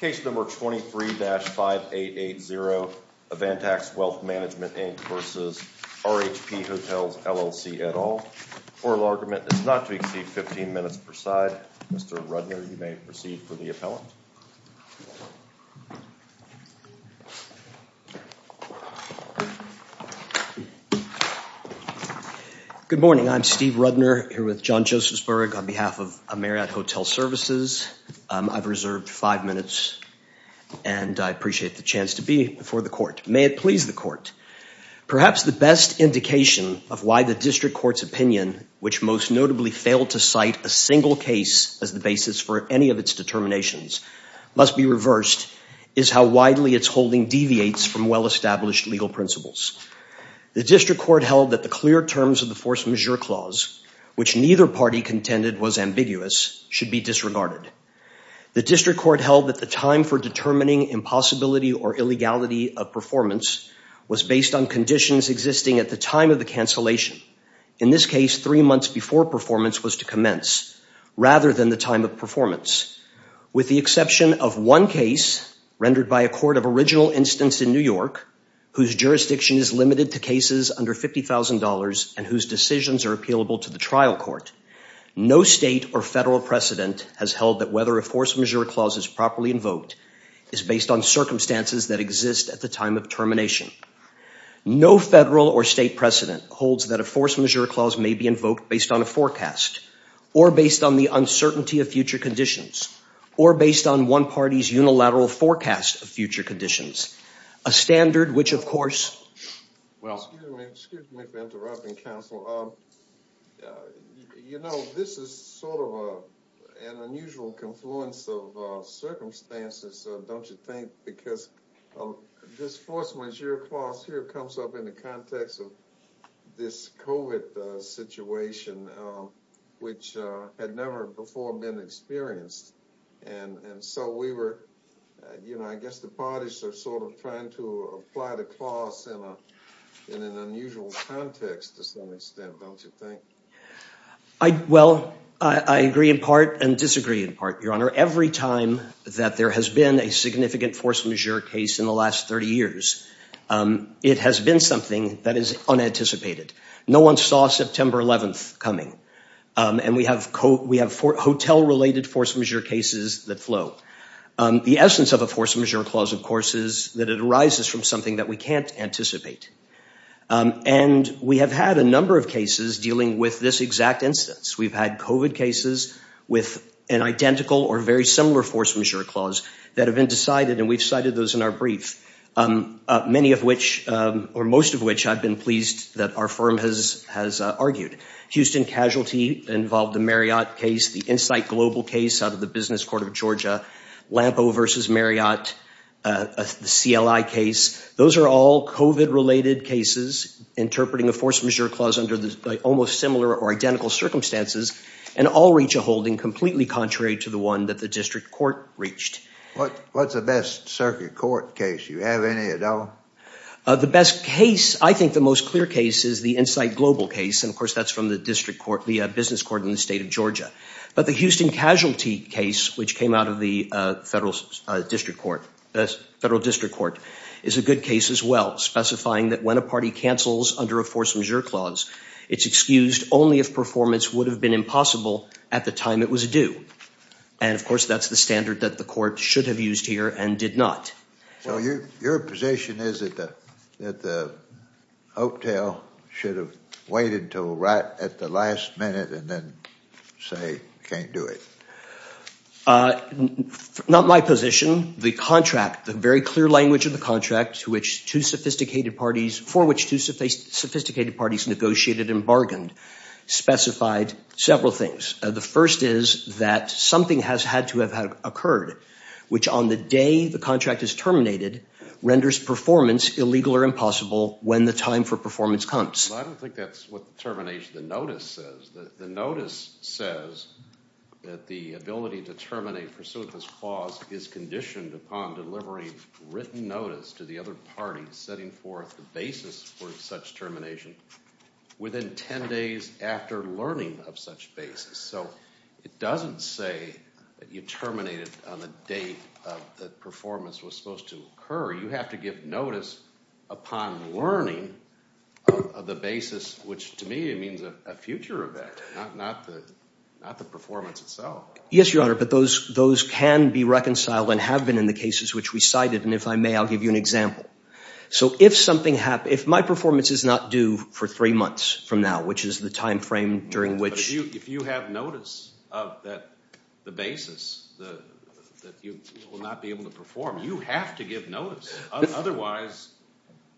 Case number 23-5880 of Vantax Wealth Management Inc versus RHP Hotels LLC et al. Oral argument is not to exceed 15 minutes per side. Mr. Rudner, you may proceed for the appellant. Good morning. I'm Steve Rudner here with John Josephsburg on behalf of Marriott Hotel Services. I've reserved five minutes and I appreciate the chance to be before the court. May it please the court. Perhaps the best indication of why the district court's opinion, which most notably failed to cite a single case as the basis for any of its determinations, must be reversed is how widely its holding deviates from well-established legal principles. The district court held that the clear terms of the force majeure clause, which neither party contended was ambiguous, should be disregarded. The district court held that the time for determining impossibility or illegality of performance was based on conditions existing at the time of the cancellation. In this case, three months before performance was to commence rather than the time of performance. With the exception of one case rendered by a court of original instance in New York whose jurisdiction is limited to cases under $50,000 and whose decisions are appealable to the trial court, no state or federal precedent has held that whether a force majeure clause is properly invoked is based on circumstances that exist at the time of termination. No federal or state precedent holds that a force majeure clause may be invoked based on a forecast or based on the uncertainty of future conditions or based on one party's unilateral forecast of future conditions. A standard which, of course, well... Excuse me for interrupting, counsel. You know, this is sort of an unusual confluence of circumstances, don't you think? Because this force majeure clause here comes up in the context of this COVID situation, which had never before been experienced. And so we were... You know, I guess the parties are sort of trying to apply the clause in an unusual context to some extent, don't you think? Well, I agree in part and disagree in part, Your Honor. Every time that there has been a significant force majeure case in the last 30 years, it has been something that is unanticipated. No one saw September 11th coming. And we have hotel-related force majeure cases that flow. The essence of a force majeure clause, of course, is that it arises from something that we can't anticipate. And we have had a number of cases dealing with this exact instance. We've had COVID cases with an identical or very similar force majeure clause that have been decided, and we've cited those in our brief, many of which or most of which I've been pleased that our firm has argued. Houston casualty involved the Marriott case, the Insight Global case out of the Business Court of Georgia, Lampo v. Marriott, the CLI case. Those are all COVID-related cases interpreting a force majeure clause under almost similar or identical circumstances, and all reach a holding completely contrary to the one that the district court reached. What's the best circuit court case? Do you have any at all? The best case, I think the most clear case, is the Insight Global case. And, of course, that's from the district court, the Business Court in the state of Georgia. But the Houston casualty case, which came out of the federal district court, is a good case as well, specifying that when a party cancels under a force majeure clause, it's excused only if performance would have been impossible at the time it was due. And, of course, that's the standard that the court should have used here and did not. So your position is that the hotel should have waited until right at the last minute and then say, can't do it? Not my position. The contract, the very clear language of the contract to which two sophisticated parties, for which two sophisticated parties negotiated and bargained, specified several things. The first is that something has had to have occurred, which on the day the contract is terminated, renders performance illegal or impossible when the time for performance comes. I don't think that's what the termination, the notice says. The notice says that the ability to terminate pursuit of this clause is conditioned upon delivering written notice to the other party setting forth the basis for such termination within 10 days after learning of such basis. So it doesn't say that you terminate it on the date that performance was supposed to occur. You have to give notice upon learning of the basis, which to me means a future event, not the performance itself. Yes, Your Honor, but those can be reconciled and have been in the cases which we cited. And if I may, I'll give you an example. So if something happens, if my performance is not due for three months from now, which is the time frame during which. If you have notice of the basis that you will not be able to perform, you have to give notice. Otherwise,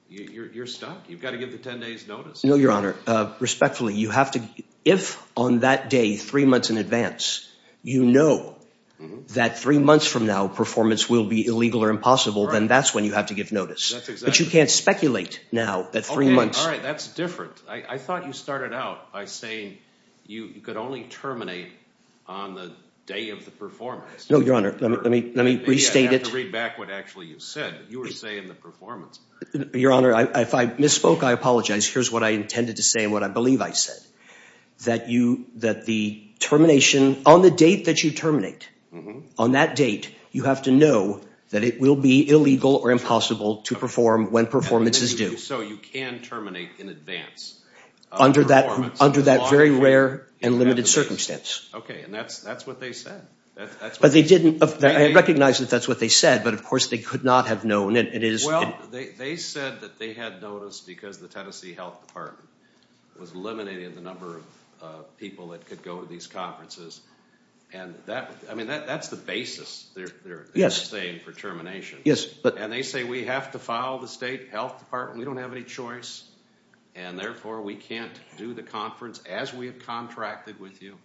you're stuck. You've got to give the 10 days notice. No, Your Honor. Respectfully, you have to. If on that day, three months in advance, you know that three months from now performance will be illegal or impossible, then that's when you have to give notice. But you can't speculate now that three months. All right. That's different. I thought you started out by saying you could only terminate on the day of the performance. No, Your Honor. Let me restate it. I have to read back what actually you said. You were saying the performance. Your Honor, if I misspoke, I apologize. Here's what I intended to say and what I believe I said. That the termination, on the date that you terminate, on that date, you have to know that it will be illegal or impossible to perform when performance is due. So you can terminate in advance. Under that very rare and limited circumstance. Okay. And that's what they said. I recognize that that's what they said, but of course they could not have known. Well, they said that they had notice because the Tennessee Health Department was eliminating the number of people that could go to these conferences. And that's the basis they're saying for termination. And they say we have to file the state health department. We don't have any choice. And therefore, we can't do the conference as we have contracted with you.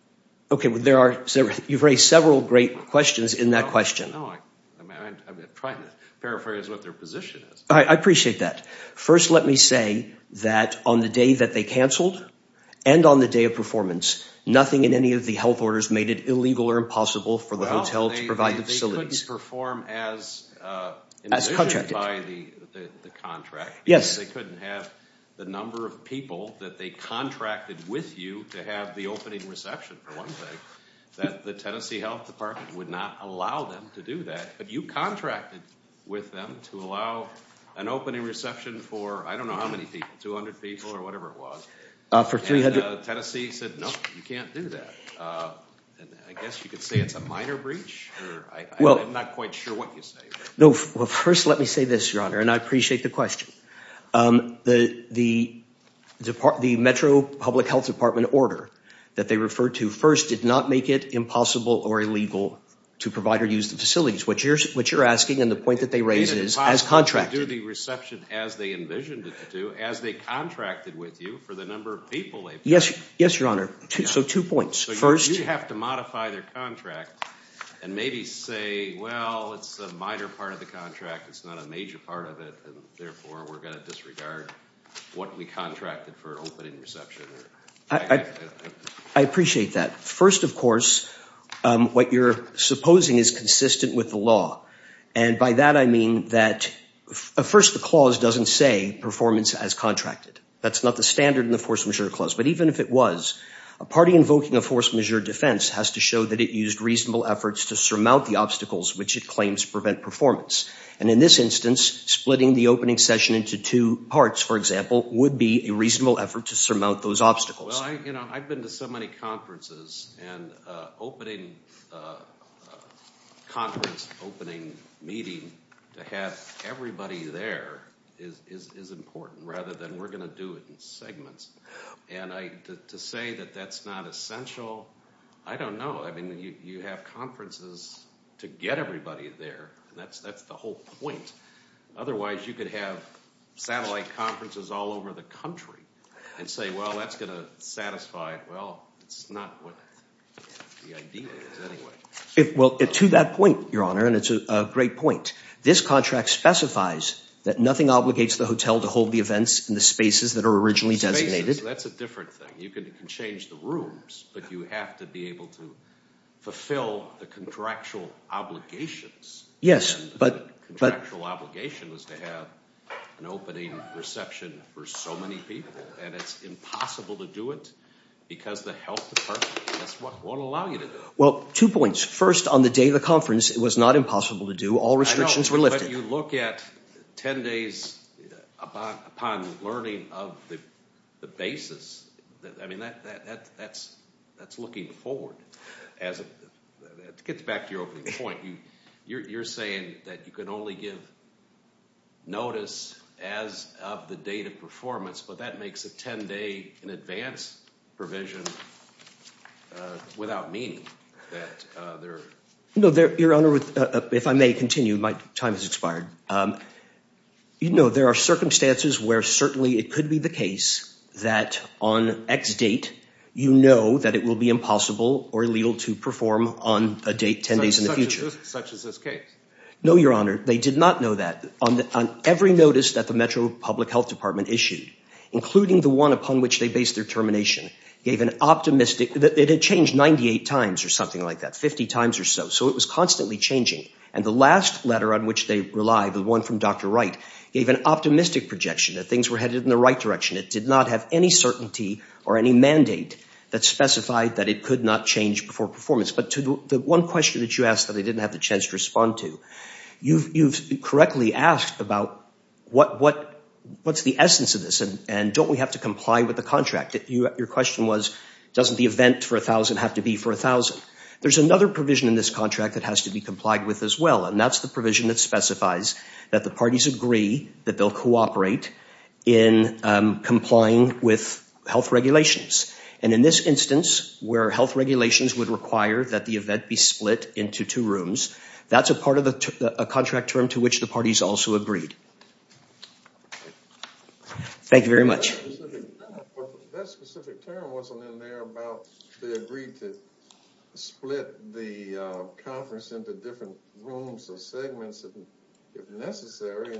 Okay. You've raised several great questions in that question. I'm trying to paraphrase what their position is. I appreciate that. First, let me say that on the day that they canceled and on the day of performance, nothing in any of the health orders made it illegal or impossible for the hotel to provide the facilities. They couldn't perform as envisioned by the contract. Yes. They couldn't have the number of people that they contracted with you to have the opening reception for one thing, that the Tennessee Health Department would not allow them to do that. But you contracted with them to allow an opening reception for, I don't know how many people, 200 people or whatever it was. For 300. And Tennessee said, no, you can't do that. I guess you could say it's a minor breach. I'm not quite sure what you say. No. Well, first, let me say this, Your Honor, and I appreciate the question. The Metro Public Health Department order that they referred to first did not make it impossible or illegal to provide or use the facilities. What you're asking and the point that they raise is, as contracted. They did not do the reception as they envisioned it to do, as they contracted with you for the number of people they brought. Yes, Your Honor. So two points. First, you have to modify their contract and maybe say, well, it's a minor part of the contract. It's not a major part of it. Therefore, we're going to disregard what we contracted for opening reception. I appreciate that. First, of course, what you're supposing is consistent with the law. And by that, I mean that first, the clause doesn't say performance as contracted. That's not the standard in the force majeure clause. But even if it was, a party invoking a force majeure defense has to show that it used reasonable efforts to surmount the obstacles which it claims prevent performance. And in this instance, splitting the opening session into two parts, for example, would be a reasonable effort to surmount those obstacles. Well, I've been to so many conferences and opening – conference opening meeting to have everybody there is important rather than we're going to do it in segments. And to say that that's not essential, I don't know. I mean you have conferences to get everybody there. That's the whole point. Otherwise, you could have satellite conferences all over the country and say, well, that's going to satisfy – well, it's not what the idea is anyway. Well, to that point, Your Honor, and it's a great point, this contract specifies that nothing obligates the hotel to hold the events in the spaces that are originally designated. Spaces, that's a different thing. You can change the rooms, but you have to be able to fulfill the contractual obligations. Yes, but – Contractual obligation is to have an opening reception for so many people, and it's impossible to do it because the health department won't allow you to do it. Well, two points. First, on the day of the conference, it was not impossible to do. All restrictions were lifted. But you look at 10 days upon learning of the basis. I mean that's looking forward. To get back to your opening point, you're saying that you can only give notice as of the date of performance, but that makes a 10-day in advance provision without meaning. No, Your Honor, if I may continue, my time has expired. There are circumstances where certainly it could be the case that on X date you know that it will be impossible or illegal to perform on a date 10 days in the future. Such as this case? No, Your Honor, they did not know that. On every notice that the Metro Public Health Department issued, including the one upon which they based their termination, gave an optimistic – it had changed 98 times or something like that, 50 times or so. So it was constantly changing. And the last letter on which they relied, the one from Dr. Wright, gave an optimistic projection that things were headed in the right direction. It did not have any certainty or any mandate that specified that it could not change before performance. But to the one question that you asked that I didn't have the chance to respond to, you've correctly asked about what's the essence of this and don't we have to comply with the contract? Your question was, doesn't the event for 1,000 have to be for 1,000? There's another provision in this contract that has to be complied with as well. And that's the provision that specifies that the parties agree that they'll cooperate in complying with health regulations. And in this instance, where health regulations would require that the event be split into two rooms, that's a part of the contract term to which the parties also agreed. Thank you very much. That specific term wasn't in there about they agreed to split the conference into different rooms or segments if necessary.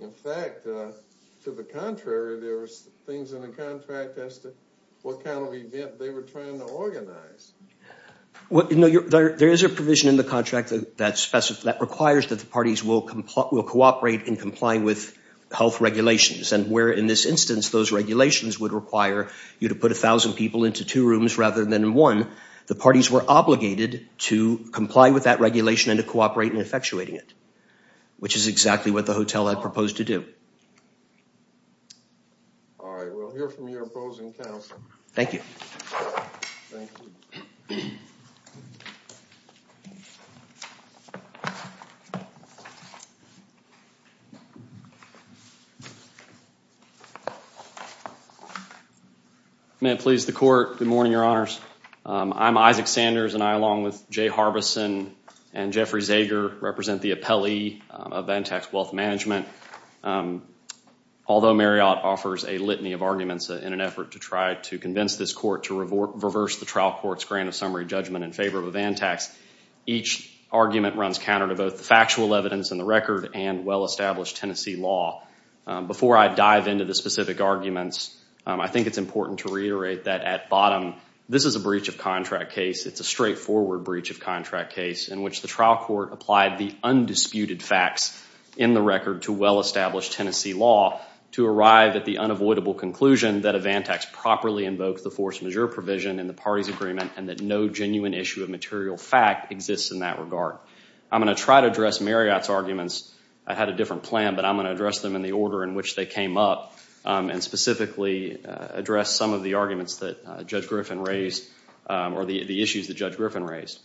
In fact, to the contrary, there were things in the contract as to what kind of event they were trying to organize. There is a provision in the contract that requires that the parties will cooperate in complying with health regulations. And where in this instance, those regulations would require you to put 1,000 people into two rooms rather than one, the parties were obligated to comply with that regulation and to cooperate in effectuating it. Which is exactly what the hotel had proposed to do. All right. We'll hear from your opposing counsel. Thank you. May it please the Court. Good morning, Your Honors. I'm Isaac Sanders, and I, along with Jay Harbison and Jeffrey Zager, represent the appellee of Vantax Wealth Management. Although Marriott offers a litany of arguments in an effort to try to convince this Court to reverse the trial court's grant of summary judgment in favor of a Vantax, each argument runs counter to both the factual evidence in the record and well-established Tennessee law. Before I dive into the specific arguments, I think it's important to reiterate that at bottom, this is a breach of contract case. It's a straightforward breach of contract case in which the trial court applied the undisputed facts in the record to well-established Tennessee law to arrive at the unavoidable conclusion that a Vantax properly invokes the force majeure provision in the parties' agreement and that no genuine issue of material fact exists in that regard. I'm going to try to address Marriott's arguments. I had a different plan, but I'm going to address them in the order in which they came up and specifically address some of the arguments that Judge Griffin raised or the issues that Judge Griffin raised.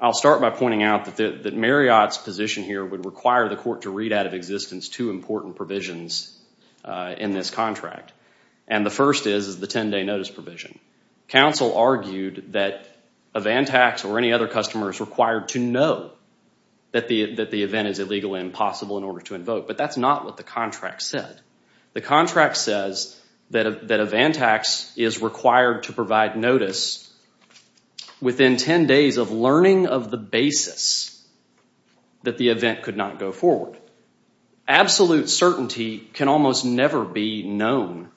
I'll start by pointing out that Marriott's position here would require the Court to read out of existence two important provisions in this contract, and the first is the 10-day notice provision. Counsel argued that a Vantax or any other customer is required to know that the event is illegally impossible in order to invoke, but that's not what the contract said. The contract says that a Vantax is required to provide notice within 10 days of learning of the basis that the event could not go forward. Absolute certainty can almost never be known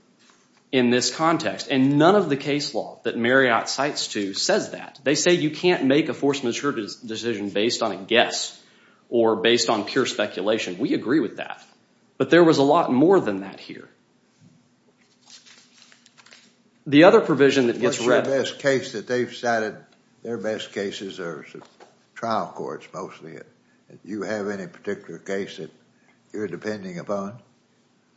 in this context, and none of the case law that Marriott cites to says that. They say you can't make a force majeure decision based on a guess or based on pure speculation. We agree with that, but there was a lot more than that here. The other provision that gets read— What's your best case that they've cited? Their best cases are trial courts mostly. Do you have any particular case that you're depending upon?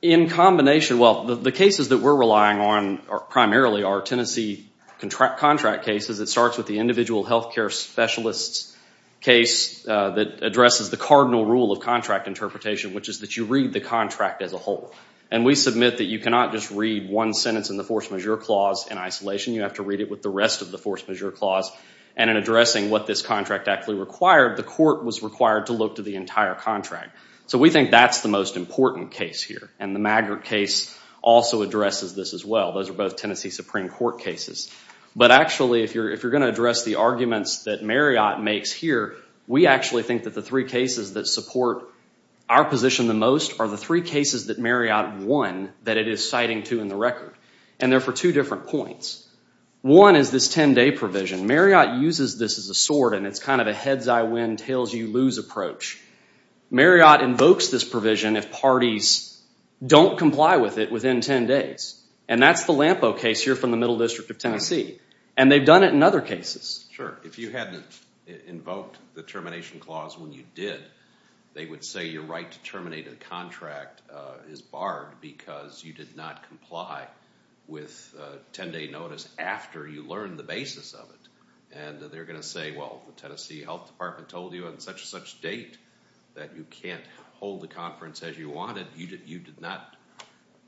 In combination, well, the cases that we're relying on primarily are Tennessee contract cases. It starts with the individual health care specialist's case that addresses the cardinal rule of contract interpretation, which is that you read the contract as a whole, and we submit that you cannot just read one sentence in the force majeure clause in isolation. You have to read it with the rest of the force majeure clause, and in addressing what this contract actually required, the court was required to look to the entire contract. We think that's the most important case here, and the Maggart case also addresses this as well. Those are both Tennessee Supreme Court cases. But actually, if you're going to address the arguments that Marriott makes here, we actually think that the three cases that support our position the most are the three cases that Marriott won that it is citing to in the record. And they're for two different points. One is this 10-day provision. Marriott uses this as a sword, and it's kind of a heads-I-win, tails-you-lose approach. Marriott invokes this provision if parties don't comply with it within 10 days, and that's the Lampeau case here from the Middle District of Tennessee, and they've done it in other cases. Sure. If you hadn't invoked the termination clause when you did, they would say your right to terminate a contract is barred because you did not comply with 10-day notice after you learned the basis of it. And they're going to say, well, the Tennessee Health Department told you on such-and-such date that you can't hold the conference as you wanted. You did not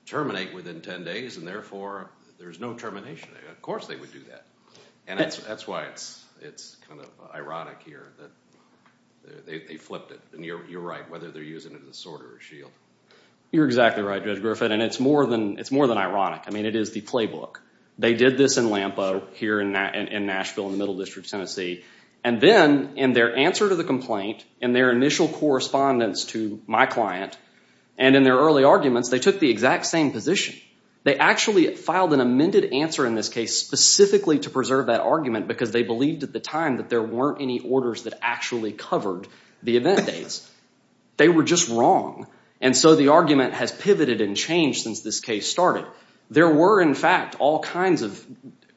terminate within 10 days, and therefore there's no termination. Of course they would do that. And that's why it's kind of ironic here that they flipped it, and you're right, whether they're using it as a sword or a shield. You're exactly right, Judge Griffith, and it's more than ironic. I mean, it is the playbook. They did this in Lampeau here in Nashville in the Middle District of Tennessee, and then in their answer to the complaint, in their initial correspondence to my client, and in their early arguments, they took the exact same position. They actually filed an amended answer in this case specifically to preserve that argument because they believed at the time that there weren't any orders that actually covered the event dates. They were just wrong, and so the argument has pivoted and changed since this case started. There were, in fact, all kinds of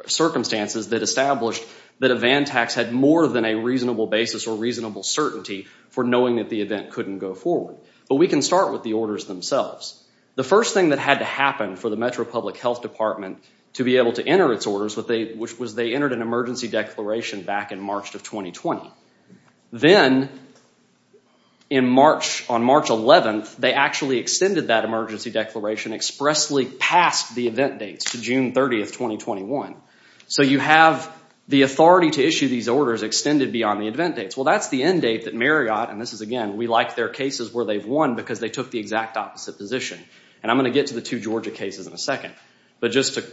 circumstances that established that a van tax had more than a reasonable basis or reasonable certainty for knowing that the event couldn't go forward. But we can start with the orders themselves. The first thing that had to happen for the Metro Public Health Department to be able to enter its orders, which was they entered an emergency declaration back in March of 2020. Then, on March 11th, they actually extended that emergency declaration expressly past the event dates to June 30th, 2021. So you have the authority to issue these orders extended beyond the event dates. Well, that's the end date that Marriott, and this is, again, we like their cases where they've won because they took the exact opposite position. And I'm going to get to the two Georgia cases in a second. But just to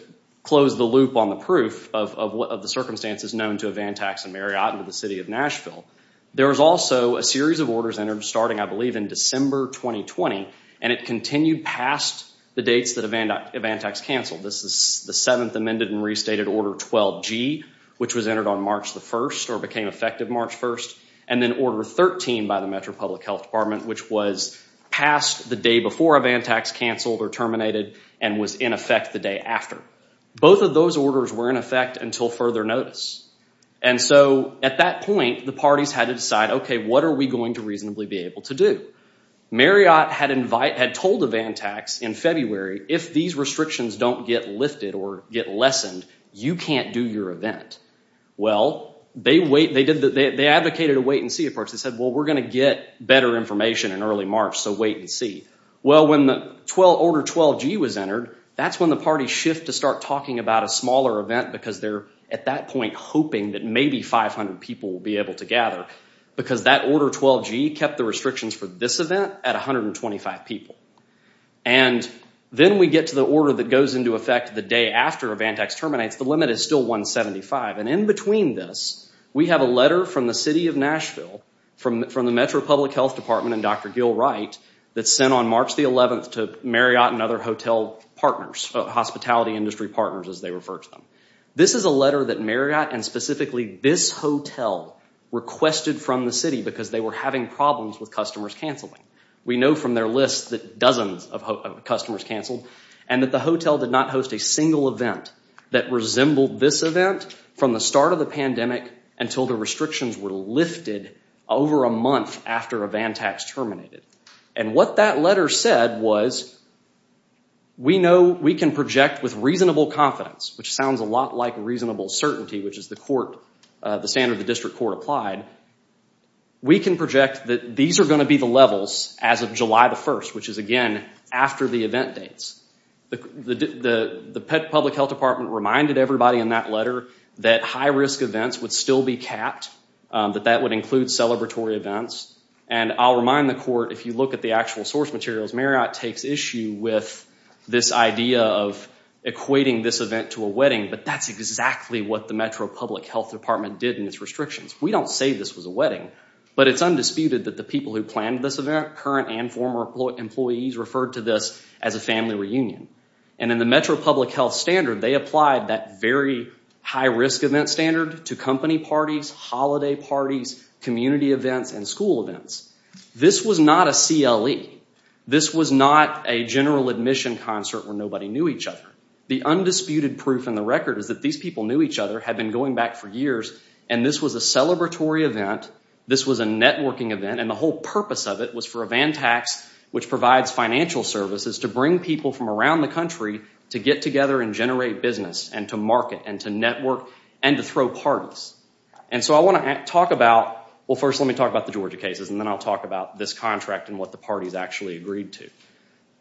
close the loop on the proof of the circumstances known to a van tax in Marriott and to the city of Nashville, there was also a series of orders entered starting, I believe, in December 2020, and it continued past the dates that a van tax canceled. This is the 7th amended and restated Order 12G, which was entered on March 1st or became effective March 1st, and then Order 13 by the Metro Public Health Department, which was passed the day before a van tax canceled or terminated and was in effect the day after. Both of those orders were in effect until further notice. And so at that point, the parties had to decide, okay, what are we going to reasonably be able to do? Marriott had told a van tax in February, if these restrictions don't get lifted or get lessened, you can't do your event. Well, they advocated a wait-and-see approach. They said, well, we're going to get better information in early March, so wait and see. Well, when the Order 12G was entered, that's when the parties shift to start talking about a smaller event because they're at that point hoping that maybe 500 people will be able to gather because that Order 12G kept the restrictions for this event at 125 people. And then we get to the order that goes into effect the day after a van tax terminates. The limit is still 175. And in between this, we have a letter from the City of Nashville, from the Metro Public Health Department and Dr. Gil Wright, that's sent on March the 11th to Marriott and other hotel partners, hospitality industry partners, as they refer to them. This is a letter that Marriott and specifically this hotel requested from the city because they were having problems with customers canceling. We know from their list that dozens of customers canceled and that the hotel did not host a single event that resembled this event from the start of the pandemic until the restrictions were lifted over a month after a van tax terminated. And what that letter said was, we know we can project with reasonable confidence, which sounds a lot like reasonable certainty, which is the standard the district court applied, we can project that these are going to be the levels as of July the 1st, which is again after the event dates. The Public Health Department reminded everybody in that letter that high-risk events would still be capped, that that would include celebratory events. And I'll remind the court, if you look at the actual source materials, Marriott takes issue with this idea of equating this event to a wedding, but that's exactly what the Metro Public Health Department did in its restrictions. We don't say this was a wedding, but it's undisputed that the people who planned this event, current and former employees, referred to this as a family reunion. And in the Metro Public Health standard, they applied that very high-risk event standard to company parties, holiday parties, community events, and school events. This was not a CLE. This was not a general admission concert where nobody knew each other. The undisputed proof in the record is that these people knew each other, had been going back for years, and this was a celebratory event, this was a networking event, and the whole purpose of it was for a van tax, which provides financial services, to bring people from around the country to get together and generate business, and to market, and to network, and to throw parties. And so I want to talk about, well, first let me talk about the Georgia cases, and then I'll talk about this contract and what the parties actually agreed to.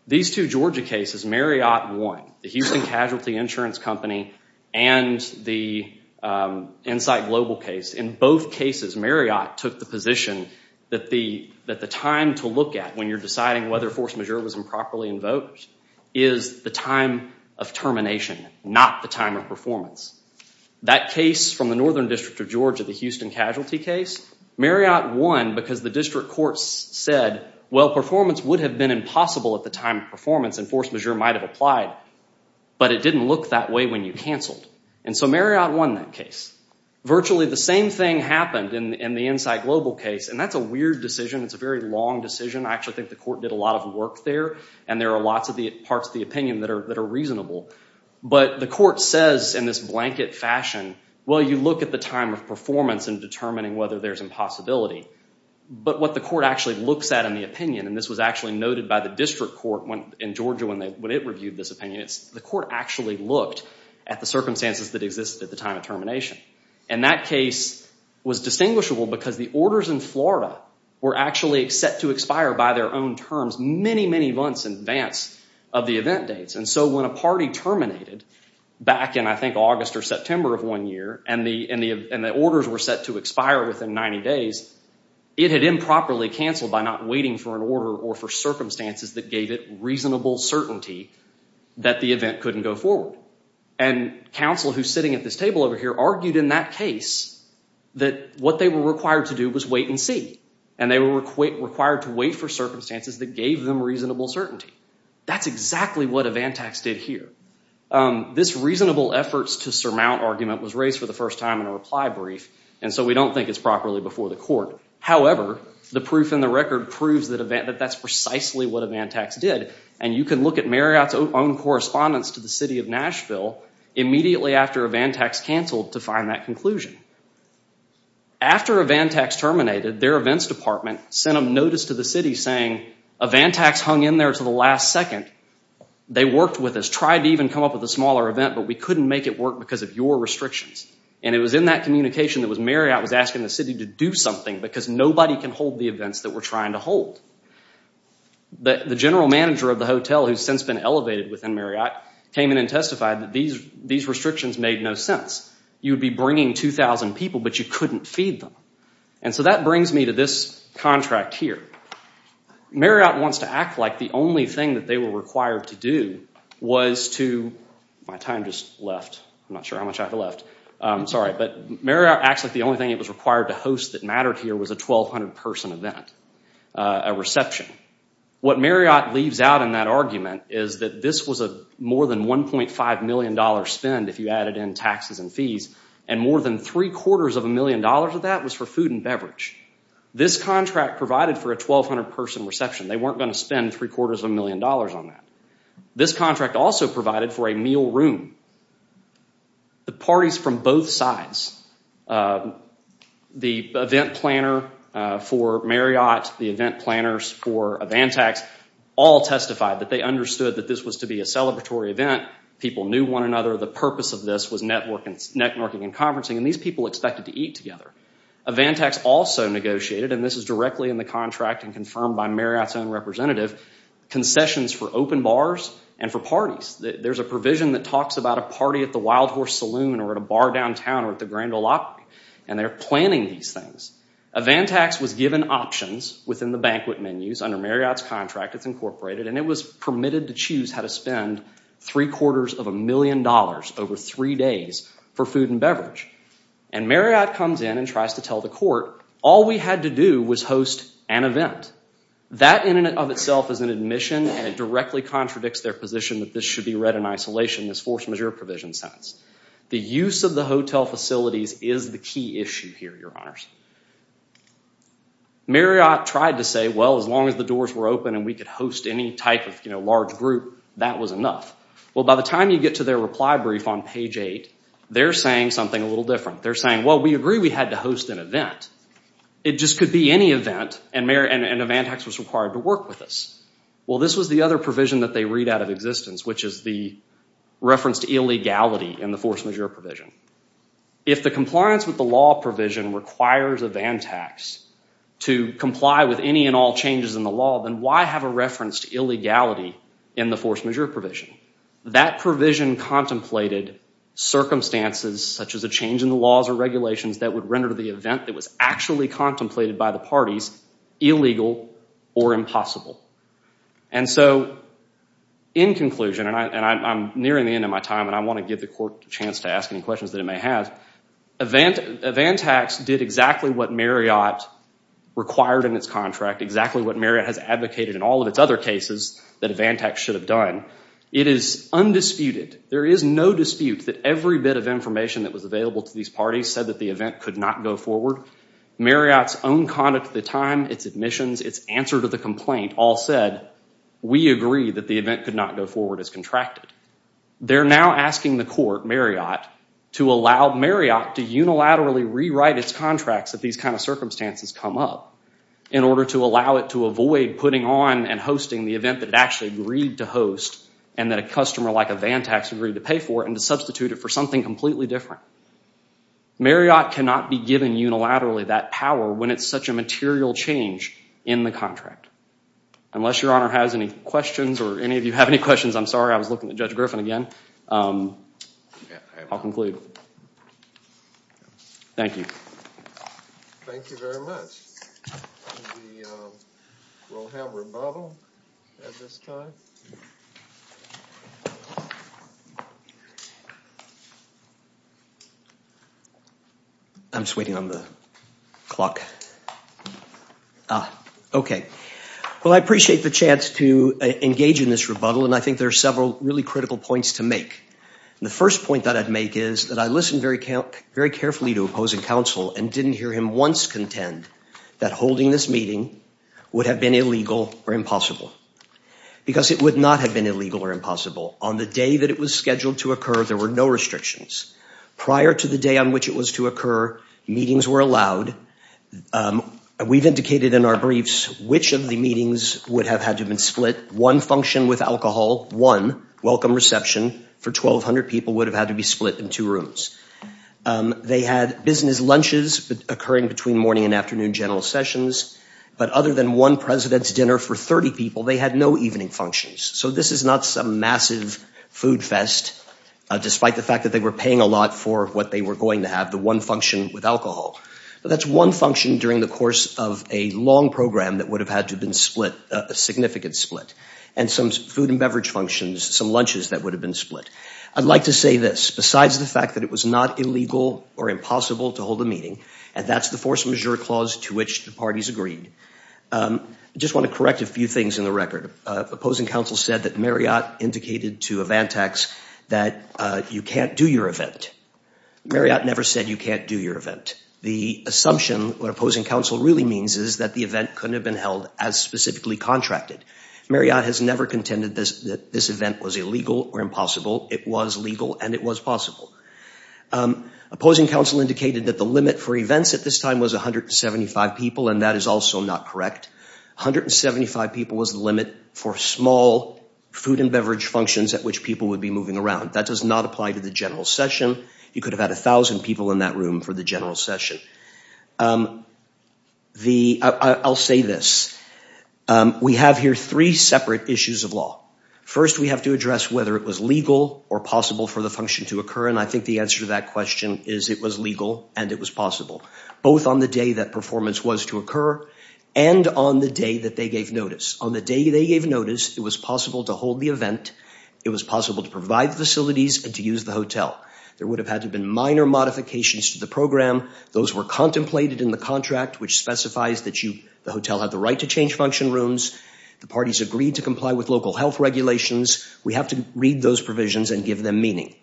These two Georgia cases, Marriott won. The Houston Casualty Insurance Company and the Insight Global case, in both cases, Marriott took the position that the time to look at when you're deciding whether force majeure was improperly invoked is the time of termination, not the time of performance. That case from the Northern District of Georgia, the Houston Casualty case, Marriott won because the district courts said, well, performance would have been impossible at the time of performance, and force majeure might have applied, but it didn't look that way when you canceled. And so Marriott won that case. Virtually the same thing happened in the Insight Global case, and that's a weird decision. It's a very long decision. I actually think the court did a lot of work there, and there are lots of parts of the opinion that are reasonable. But the court says in this blanket fashion, well, you look at the time of performance in determining whether there's impossibility. But what the court actually looks at in the opinion, and this was actually noted by the district court in Georgia when it reviewed this opinion, the court actually looked at the circumstances that existed at the time of termination. And that case was distinguishable because the orders in Florida were actually set to expire by their own terms many, many months in advance of the event dates. And so when a party terminated back in, I think, August or September of one year, and the orders were set to expire within 90 days, it had improperly canceled by not waiting for an order or for circumstances that gave it reasonable certainty that the event couldn't go forward. And counsel who's sitting at this table over here argued in that case that what they were required to do was wait and see. And they were required to wait for circumstances that gave them reasonable certainty. That's exactly what Avantax did here. This reasonable efforts to surmount argument was raised for the first time in a reply brief, and so we don't think it's properly before the court. However, the proof in the record proves that that's precisely what Avantax did. And you can look at Marriott's own correspondence to the city of Nashville immediately after Avantax canceled to find that conclusion. After Avantax terminated, their events department sent a notice to the city saying, Avantax hung in there to the last second. They worked with us, tried to even come up with a smaller event, but we couldn't make it work because of your restrictions. And it was in that communication that Marriott was asking the city to do something because nobody can hold the events that we're trying to hold. The general manager of the hotel, who's since been elevated within Marriott, came in and testified that these restrictions made no sense. You'd be bringing 2,000 people, but you couldn't feed them. And so that brings me to this contract here. Marriott wants to act like the only thing that they were required to do was to... My time just left. I'm not sure how much I have left. I'm sorry. But Marriott acts like the only thing it was required to host that mattered here was a 1,200-person event, a reception. What Marriott leaves out in that argument is that this was a more than $1.5 million spend if you added in taxes and fees, and more than three-quarters of a million dollars of that was for food and beverage. This contract provided for a 1,200-person reception. They weren't going to spend three-quarters of a million dollars on that. This contract also provided for a meal room. The parties from both sides, the event planner for Marriott, the event planners for Avantax, all testified that they understood that this was to be a celebratory event. People knew one another. The purpose of this was networking and conferencing, and these people expected to eat together. Avantax also negotiated, and this is directly in the contract and confirmed by Marriott's own representative, concessions for open bars and for parties. There's a provision that talks about a party at the Wild Horse Saloon or at a bar downtown or at the Grand Ole Opry, and they're planning these things. Avantax was given options within the banquet menus under Marriott's contract. It's incorporated, and it was permitted to choose how to spend three-quarters of a million dollars over three days for food and beverage. Marriott comes in and tries to tell the court, all we had to do was host an event. That in and of itself is an admission, and it directly contradicts their position that this should be read in isolation, this force majeure provision sense. The use of the hotel facilities is the key issue here, Your Honors. Marriott tried to say, well, as long as the doors were open and we could host any type of large group, that was enough. Well, by the time you get to their reply brief on page 8, they're saying something a little different. They're saying, well, we agree we had to host an event. It just could be any event, and Avantax was required to work with us. Well, this was the other provision that they read out of existence, which is the reference to illegality in the force majeure provision. If the compliance with the law provision requires Avantax to comply with any and all changes in the law, then why have a reference to illegality in the force majeure provision? That provision contemplated circumstances such as a change in the laws or regulations that would render the event that was actually contemplated by the parties illegal or impossible. And so, in conclusion, and I'm nearing the end of my time and I want to give the court a chance to ask any questions that it may have, Avantax did exactly what Marriott required in its contract, exactly what Marriott has advocated in all of its other cases that Avantax should have done. It is undisputed, there is no dispute that every bit of information that was available to these parties said that the event could not go forward. Marriott's own conduct at the time, its admissions, its answer to the complaint all said, we agree that the event could not go forward as contracted. They're now asking the court, Marriott, to allow Marriott to unilaterally rewrite its contracts if these kind of circumstances come up in order to allow it to avoid putting on and hosting the event that it actually agreed to host and that a customer like Avantax agreed to pay for and to substitute it for something completely different. Marriott cannot be given unilaterally that power when it's such a material change in the contract. Unless your Honor has any questions or any of you have any questions, I'm sorry, I was looking at Judge Griffin again. I'll conclude. Thank you. Thank you very much. We will have rebuttal at this time. I'm just waiting on the clock. Ah, okay. Well, I appreciate the chance to engage in this rebuttal and I think there are several really critical points to make. The first point that I'd make is that I listened very carefully to opposing counsel and didn't hear him once contend that holding this meeting would have been illegal or impossible because it would not have been illegal or impossible. On the day that it was scheduled to occur, there were no restrictions. Prior to the day on which it was to occur, meetings were allowed. We've indicated in our briefs which of the meetings would have had to have been split. One function with alcohol, one welcome reception for 1,200 people would have had to be split in two rooms. They had business lunches occurring between morning and afternoon general sessions, but other than one president's dinner for 30 people, they had no evening functions. So this is not some massive food fest, despite the fact that they were paying a lot for what they were going to have, the one function with alcohol. But that's one function during the course of a long program that would have had to have been split, a significant split, and some food and beverage functions, some lunches that would have been split. I'd like to say this, besides the fact that it was not illegal or impossible to hold a meeting, and that's the force majeure clause to which the parties agreed. I just want to correct a few things in the record. Opposing counsel said that Marriott indicated to Avantax that you can't do your event. Marriott never said you can't do your event. The assumption, what opposing counsel really means, is that the event couldn't have been held as specifically contracted. Marriott has never contended that this event was illegal or impossible. It was legal and it was possible. Opposing counsel indicated that the limit for events at this time was 175 people, and that is also not correct. 175 people was the limit for small food and beverage functions at which people would be moving around. That does not apply to the general session. You could have had 1,000 people in that room for the general session. I'll say this. We have here three separate issues of law. First, we have to address whether it was legal or possible for the function to occur, and I think the answer to that question is it was legal and it was possible, both on the day that performance was to occur and on the day that they gave notice. On the day they gave notice, it was possible to hold the event. It was possible to provide the facilities and to use the hotel. There would have had to have been minor modifications to the program. Those were contemplated in the contract, which specifies that the hotel had the right to change function rooms. The parties agreed to comply with local health regulations. We have to read those provisions and give them meaning.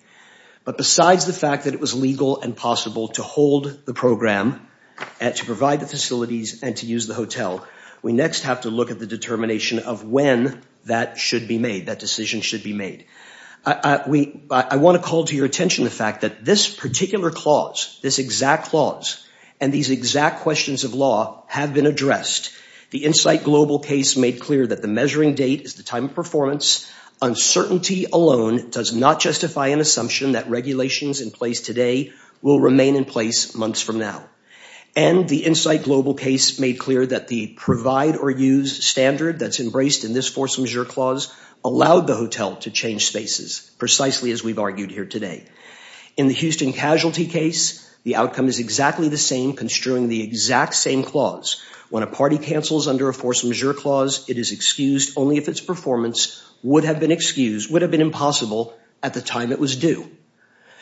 But besides the fact that it was legal and possible to hold the program and to provide the facilities and to use the hotel, we next have to look at the determination of when that should be made, that decision should be made. I want to call to your attention the fact that this particular clause, this exact clause, and these exact questions of law have been addressed. The Insight Global case made clear that the measuring date is the time of performance. Uncertainty alone does not justify an assumption that regulations in place today will remain in place months from now. And the Insight Global case made clear that the provide or use standard that's embraced in this force majeure clause allowed the hotel to change spaces, precisely as we've argued here today. In the Houston casualty case, the outcome is exactly the same, construing the exact same clause. When a party cancels under a force majeure clause, it is excused only if its performance would have been excused, would have been impossible at the time it was due.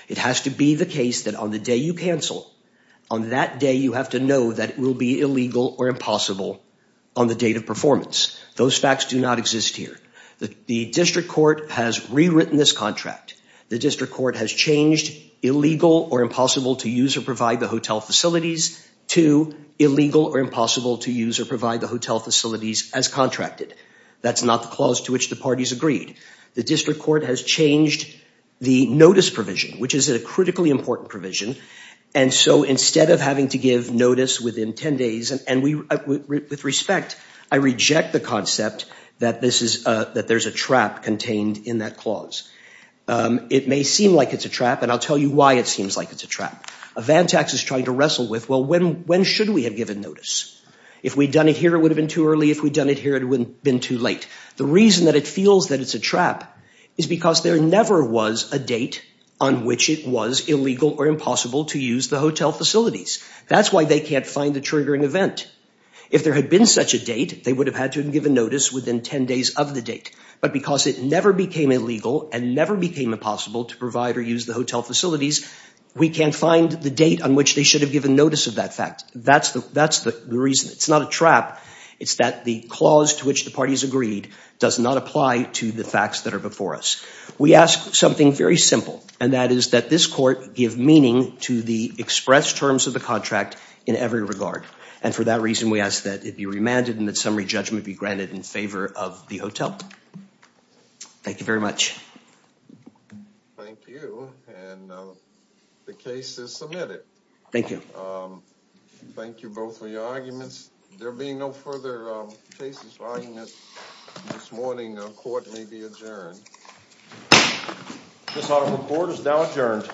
It has to be the case that on the day you cancel, on that day you have to know that it will be illegal or impossible on the date of performance. Those facts do not exist here. The district court has rewritten this contract. The district court has changed illegal or impossible to use or provide the hotel facilities to illegal or impossible to use or provide the hotel facilities as contracted. That's not the clause to which the parties agreed. The district court has changed the notice provision, which is a critically important provision. And so instead of having to give notice within 10 days, and with respect, I reject the concept that there's a trap contained in that clause. It may seem like it's a trap, and I'll tell you why it seems like it's a trap. A Vantax is trying to wrestle with, well, when should we have given notice? If we'd done it here, it would have been too early. If we'd done it here, it would have been too late. The reason that it feels that it's a trap is because there never was a date on which it was illegal or impossible to use the hotel facilities. That's why they can't find the triggering event. If there had been such a date, they would have had to have given notice within 10 days of the date. But because it never became illegal and never became impossible to provide or use the hotel facilities, we can't find the date on which they should have given notice of that fact. That's the reason. It's not a trap. It's that the clause to which the parties agreed does not apply to the facts that are before us. We ask something very simple, and that is that this court give meaning to the expressed terms of the contract in every regard. And for that reason, we ask that it be remanded and that summary judgment be granted in favor of the hotel. Thank you very much. Thank you, and the case is submitted. Thank you. Thank you both for your arguments. There being no further cases or arguments this morning, the court may be adjourned. The court is now adjourned.